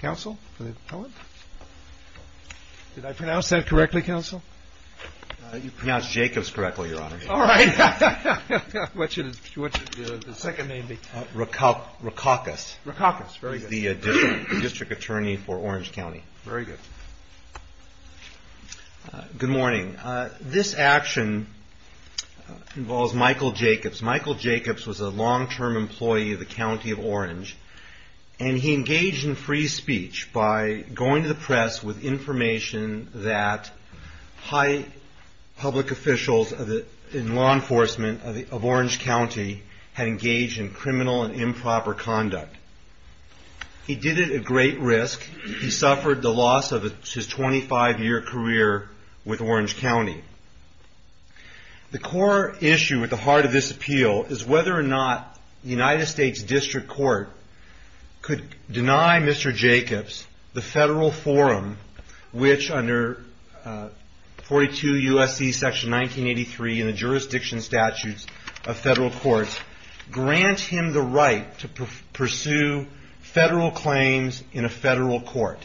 Good morning. This action involves Michael Jacobs. Michael Jacobs was a long-term employee of the County of Orange, and he engaged in free speech by going to the press with information that high public officials in law enforcement of Orange County had engaged in criminal and improper conduct. He did it at great risk. He suffered the loss of his 25-year career with Orange County. The core issue at the heart of this appeal is whether or not the United States District Court could deny Mr. Jacobs the federal forum which, under 42 U.S.C. section 1983 in the Jurisdiction Statutes of Federal Courts, grant him the right to pursue federal claims in a federal court.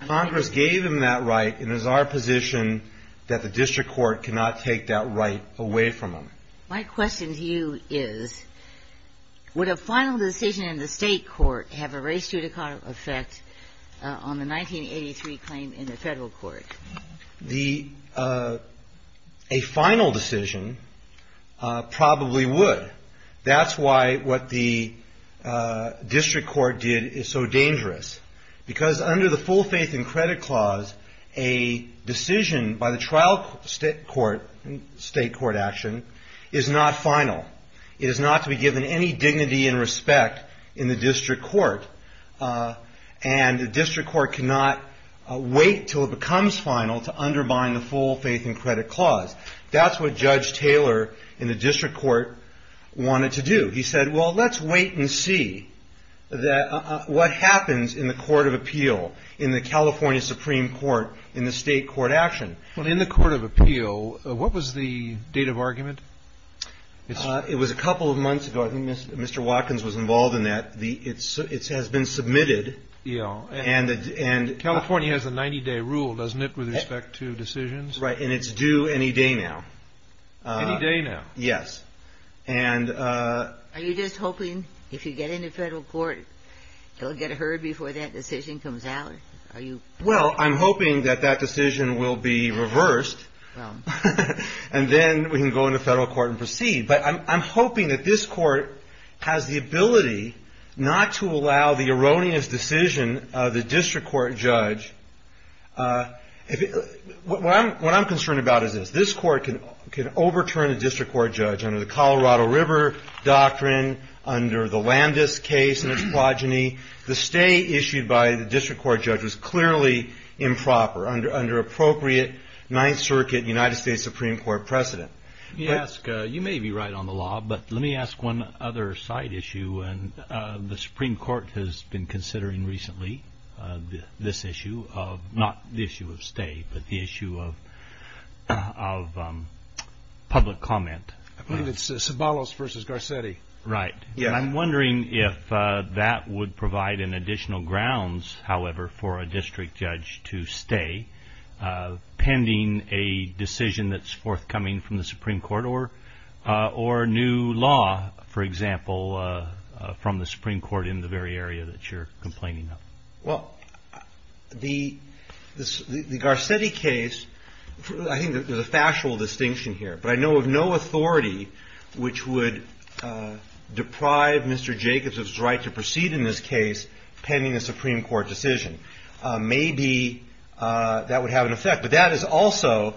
Congress gave him that right, and it is our position that the District Court cannot take that right away from him. My question to you is, would a final decision in the state court have a race to the car effect on the 1983 claim in the federal court? A final decision probably would. That's why what the District Court did is so dangerous, because under the full faith and credit clause, a decision by the trial state court action is not final. It is not to be given any dignity and respect in the final to undermine the full faith and credit clause. That's what Judge Taylor in the District Court wanted to do. He said, well, let's wait and see what happens in the Court of Appeal, in the California Supreme Court, in the state court action. Well, in the Court of Appeal, what was the date of argument? It was a couple of months ago. I think Mr. Watkins was involved in that. It has been submitted. And California has a 90-day rule, doesn't it, with respect to decisions? Right, and it's due any day now. Any day now? Yes. Are you just hoping if you get into federal court, you'll get heard before that decision comes out? Well, I'm hoping that that decision will be reversed, and then we can go into federal court and proceed. But I'm hoping that this court has the ability not to allow the erroneous decision of the district court judge. What I'm concerned about is this. This court can overturn a district court judge under the Colorado River Doctrine, under the Landis case and its progeny. The stay issued by the district court judge was clearly improper under appropriate Ninth Circuit United States Supreme Court precedent. You may be right on the law, but let me ask one other side issue. The Supreme Court has been considering recently this issue, not the issue of stay, but the issue of public comment. I believe it's Sabalos v. Garcetti. Right. I'm wondering if that would provide additional grounds, however, for a district judge to stay pending a decision that's forthcoming from the Supreme Court, or new law, for example, from the Supreme Court in the very area that you're complaining of. Well, the Garcetti case, I think there's a factual distinction here. But I know of no authority which would deprive Mr. Jacobs of his right to proceed in this case pending a Supreme Court decision. Maybe that would have an effect, but that is also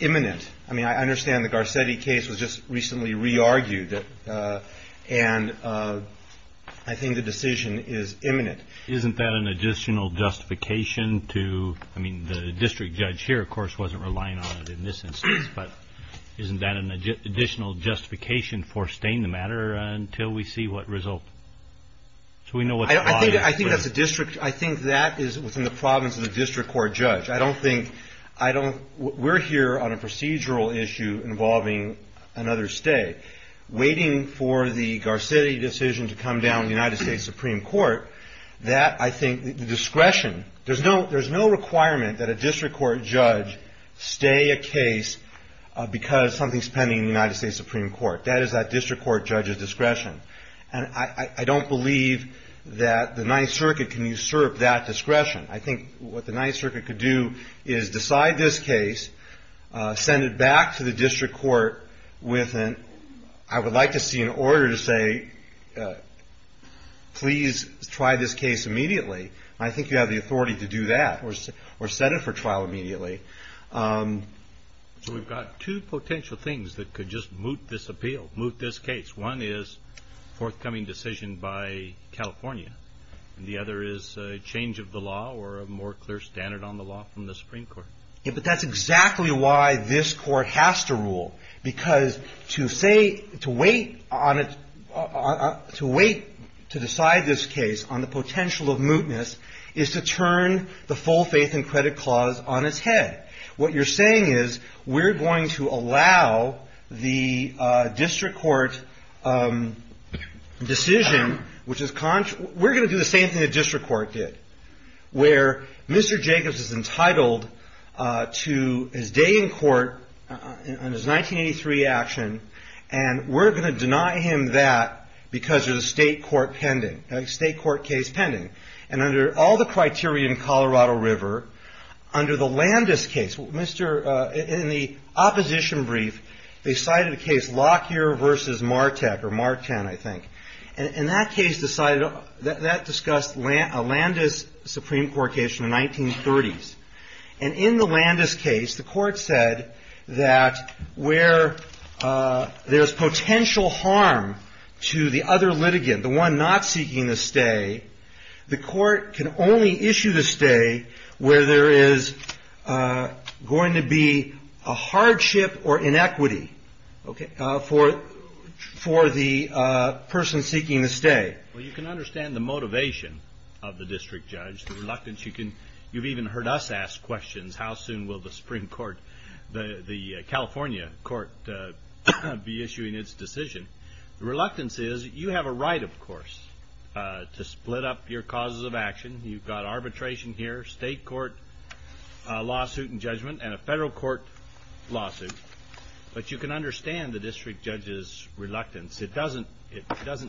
imminent. I mean, I understand the Garcetti case was just recently re-argued, and I think the decision is imminent. Isn't that an additional justification to, I mean, the district judge here, of course, wasn't relying on it in this instance, but isn't that an additional justification for staying the matter until we see what result? I think that's a district, I think that is within the province of the district court judge. I don't think, I don't, we're here on a procedural issue involving another stay. Waiting for the Garcetti decision to come down in the United States Supreme Court, that, I think, the discretion, there's no requirement that a district court judge stay a case because something's pending in the United States Supreme Court. That is that district court judge's discretion. And I don't believe that the Ninth Circuit can usurp that discretion. I think what the Ninth Circuit could do is decide this case, send it back to the district court with an, I would like to see an order to say, please try this case immediately. I think you have the authority to do that, or set it for trial immediately. So we've got two potential things that could just moot this appeal, moot this case. One is forthcoming decision by California. The other is a change of the law or a more clear standard on the law from the Supreme Court. Yeah, but that's exactly why this court has to rule. Because to say, to wait on it, to wait to decide this case on the potential of mootness is to turn the full faith and credit clause on its head. What you're saying is we're going to allow the district court decision, which is, we're going to do the same thing the district court did. Where Mr. Jacobs is entitled to his day in court on his 1983 action, and we're going to deny him that because there's a state court pending, a state court case pending. And under all the criteria in Colorado River, under the Landis case, in the opposition brief, they cited a case Lockyer versus Martek, or Marten, I think. And that case decided, that discussed a Landis Supreme Court case from the 1930s. And in the Landis case, the court said that where there's potential harm to the other litigant, the one not seeking the stay, the court can only issue the stay where there is going to be a hardship or inequity for the person seeking the stay. Well, you can understand the motivation of the district judge, the reluctance you can, you've even heard us ask questions. How soon will the Supreme Court, the California court be issuing its decision? The reluctance is, you have a right, of course, to split up your causes of action. You've got arbitration here, state court lawsuit and judgment, and a federal court lawsuit. But you can understand the district judge's reluctance. It doesn't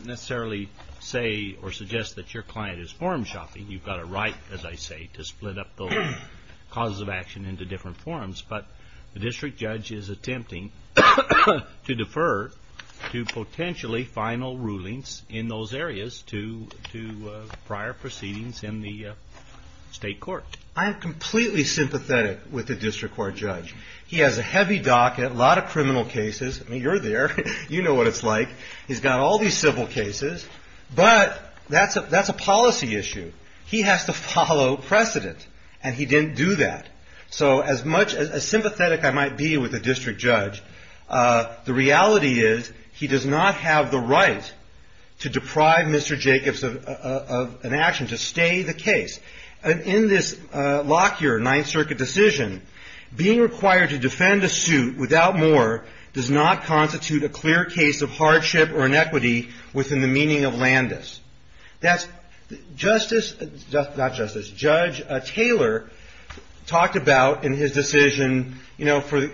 necessarily say or suggest that your client is form shopping. You've got a right, as I say, to split up the causes of action into different forms. But the district judge is attempting to defer to potentially final rulings in those areas to prior proceedings in the state court. I am completely sympathetic with the district court judge. He has a heavy docket, a lot of criminal cases. I mean, you're there, you know what it's like. He's got all these civil cases. But that's a policy issue. He has to follow precedent. And he didn't do that. So as much as sympathetic I might be with the district judge, the reality is he does not have the right to deprive Mr. Jacobs of an action to stay the case. And in this Lockyer Ninth Circuit decision, being required to defend a suit without more does not constitute a clear case of hardship or inequity within the meaning of Landis. Judge Taylor talked about in his decision, you know, for the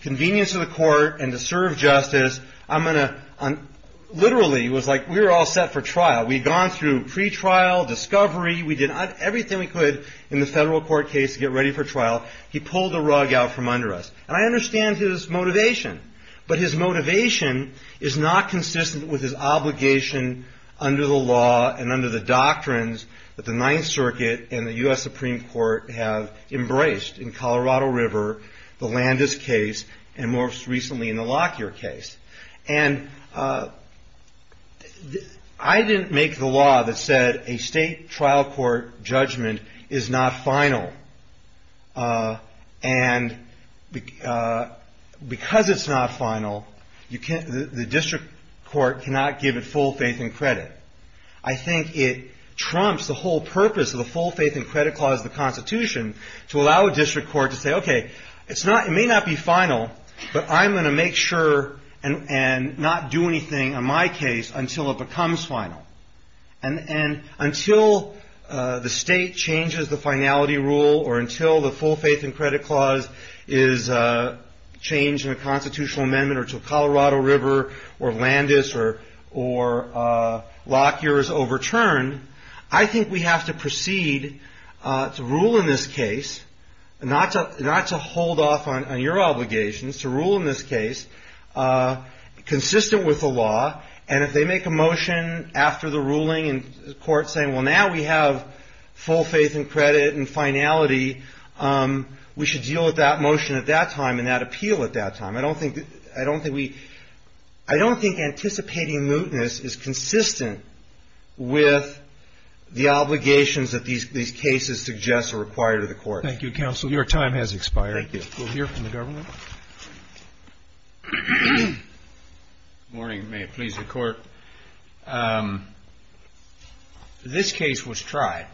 convenience of the court and to serve justice, I'm going to, literally, it was like we were all set for trial. We'd gone through pretrial, discovery, we did everything we could in the federal court case to get ready for trial. He pulled the rug out from under us. And I understand his motivation. But his motivation is not consistent with his obligation under the law and under the doctrines that the Ninth Circuit and the U.S. Supreme Court have embraced in Colorado River, the Landis case, and most recently in the Lockyer case. And I didn't make the law that said a state trial court judgment is not final. And because it's not final, you can't, the district court cannot give it full faith and credit. I think it trumps the whole purpose of the full faith and credit clause of the Constitution to allow a district court to say, okay, it's not, it may not be final, but I'm going to make sure and not do anything in my case until it becomes final. And until the state changes the finality rule or until the full faith and credit clause is changed in a constitutional amendment or to Colorado River or Landis or Lockyer is overturned, I think we have to proceed to rule in this case, not to hold off on your obligations, to rule in this case consistent with the law. And if they make a motion after the ruling and the court's saying, well, now we have full faith and credit and finality, we should deal with that motion at that time and that appeal at that time. I don't think, I don't think we, I don't think anticipating mootness is consistent with the obligations that these, these cases suggest are required of the court. Thank you, counsel. Your time has expired. Thank you. We'll hear from the government. Good morning. May it please the court. Um, this case was tried.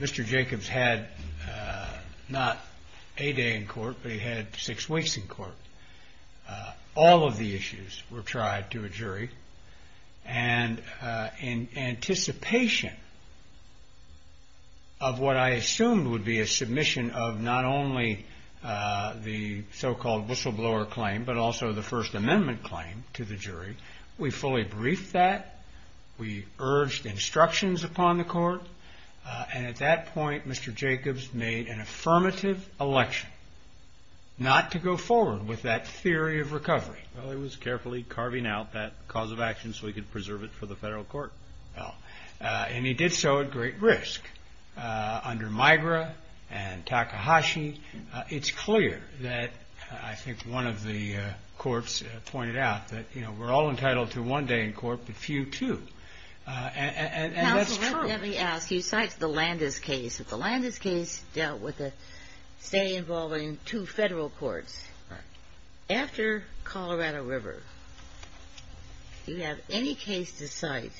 Mr. Jacobs had, uh, not a day in court, but he had six weeks in court. Uh, all of the issues were tried to a jury and, uh, in anticipation of what I assumed would be a submission of not only, uh, the so-called whistleblower claim, but also the first amendment claim to the jury. We fully briefed that we urged instructions upon the court. Uh, and at that point, Mr. Jacobs made an affirmative election not to go forward with that theory of recovery. Well, he was carefully carving out that cause of action so he could preserve it for the federal court. Oh, uh, and he did so at great risk, uh, under Migra and Takahashi. It's clear that, uh, I think one of the, uh, courts pointed out that, you know, we're all entitled to one day in court, but few too. Uh, and that's true. Let me ask, you cite the Landis case. If the Landis case dealt with a stay involving two federal courts after Colorado River, do you have any case to cite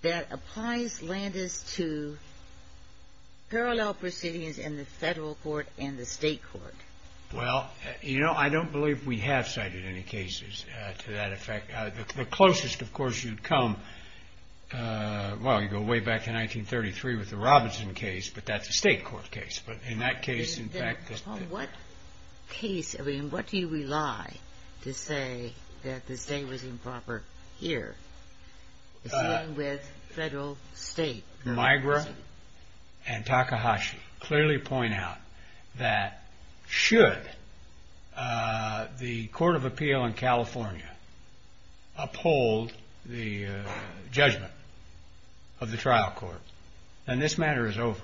that applies Landis to parallel proceedings in the federal court and the state court? Well, you know, I don't believe we have cited any cases to that effect. Uh, the closest, of course, you'd come, uh, well, you go way back to 1933 with the Robinson case, but that's a state court case. But in that case, in fact, What case, I mean, what do you rely to say that the state was improper here? Uh, Migra and Takahashi clearly point out that should, uh, the court of appeal in California uphold the judgment of the trial court, then this matter is over.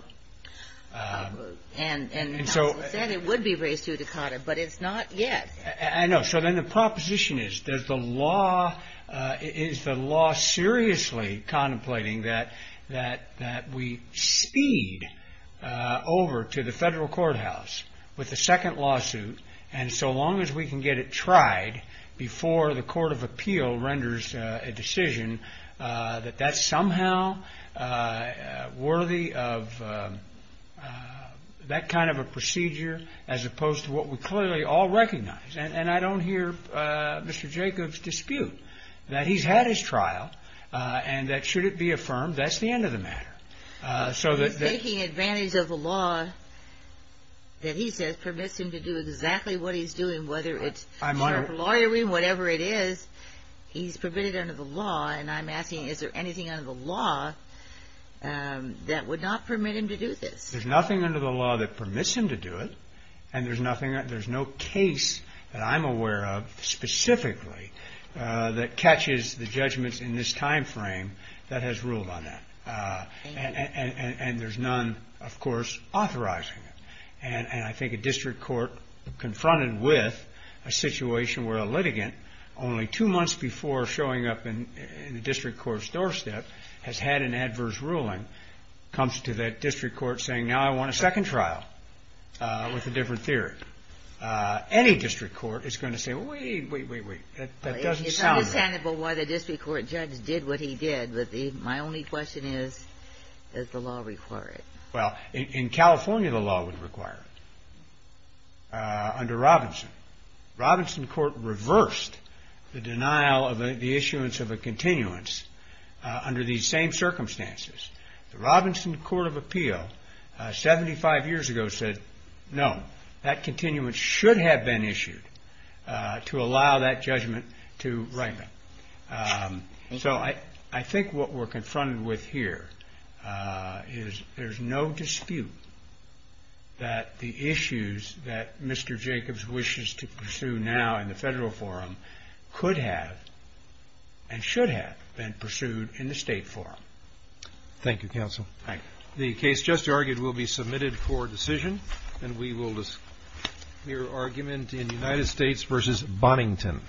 And so it would be raised to Dakota, but it's not yet. I know. So then the proposition is, does the law, uh, is the law seriously contemplating that, that, that we speed, uh, over to the federal courthouse with the second lawsuit. And so long as we can get it tried before the court of appeal renders a decision, uh, that that's somehow, uh, worthy of, uh, uh, that kind of a procedure as opposed to what we clearly all recognize. And I don't hear, uh, Mr. Jacob's dispute that he's had his trial, uh, and that should it be affirmed, that's the end of the matter. Uh, so that taking advantage of the law that he says permits him to do exactly what he's doing, whether it's lawyering, whatever it is, he's permitted under the law. And I'm asking, is there anything under the law, um, that would not permit him to do this? There's nothing under the law that permits him to do it. And there's nothing, there's no case that I'm aware of specifically, uh, that catches the judgments in this timeframe that has ruled on that. Uh, and, and, and, and there's none, of course, authorizing it. And I think a district court confronted with a situation where a litigant only two months before showing up in the district court's doorstep has had an adverse ruling. Comes to that district court saying, now I want a second trial, uh, with a different theory. Uh, any district court is going to say, wait, wait, wait, wait, that doesn't sound. It's understandable why the district court judge did what he did. But the, my only question is, does the law require it? Well, in California, the law would require it, uh, under Robinson. Robinson court reversed the denial of the issuance of a continuance, uh, under these same circumstances. The Robinson court of appeal, uh, 75 years ago said, no, that continuance should have been issued, uh, to allow that judgment to right now. Um, so I, I think what we're confronted with here, uh, is there's no dispute that the issues that Mr. Jacobs wishes to pursue now in the federal forum could have and should have been pursued in the state forum. Thank you, counsel. The case just argued will be submitted for decision and we will just hear argument in United States versus Bonington.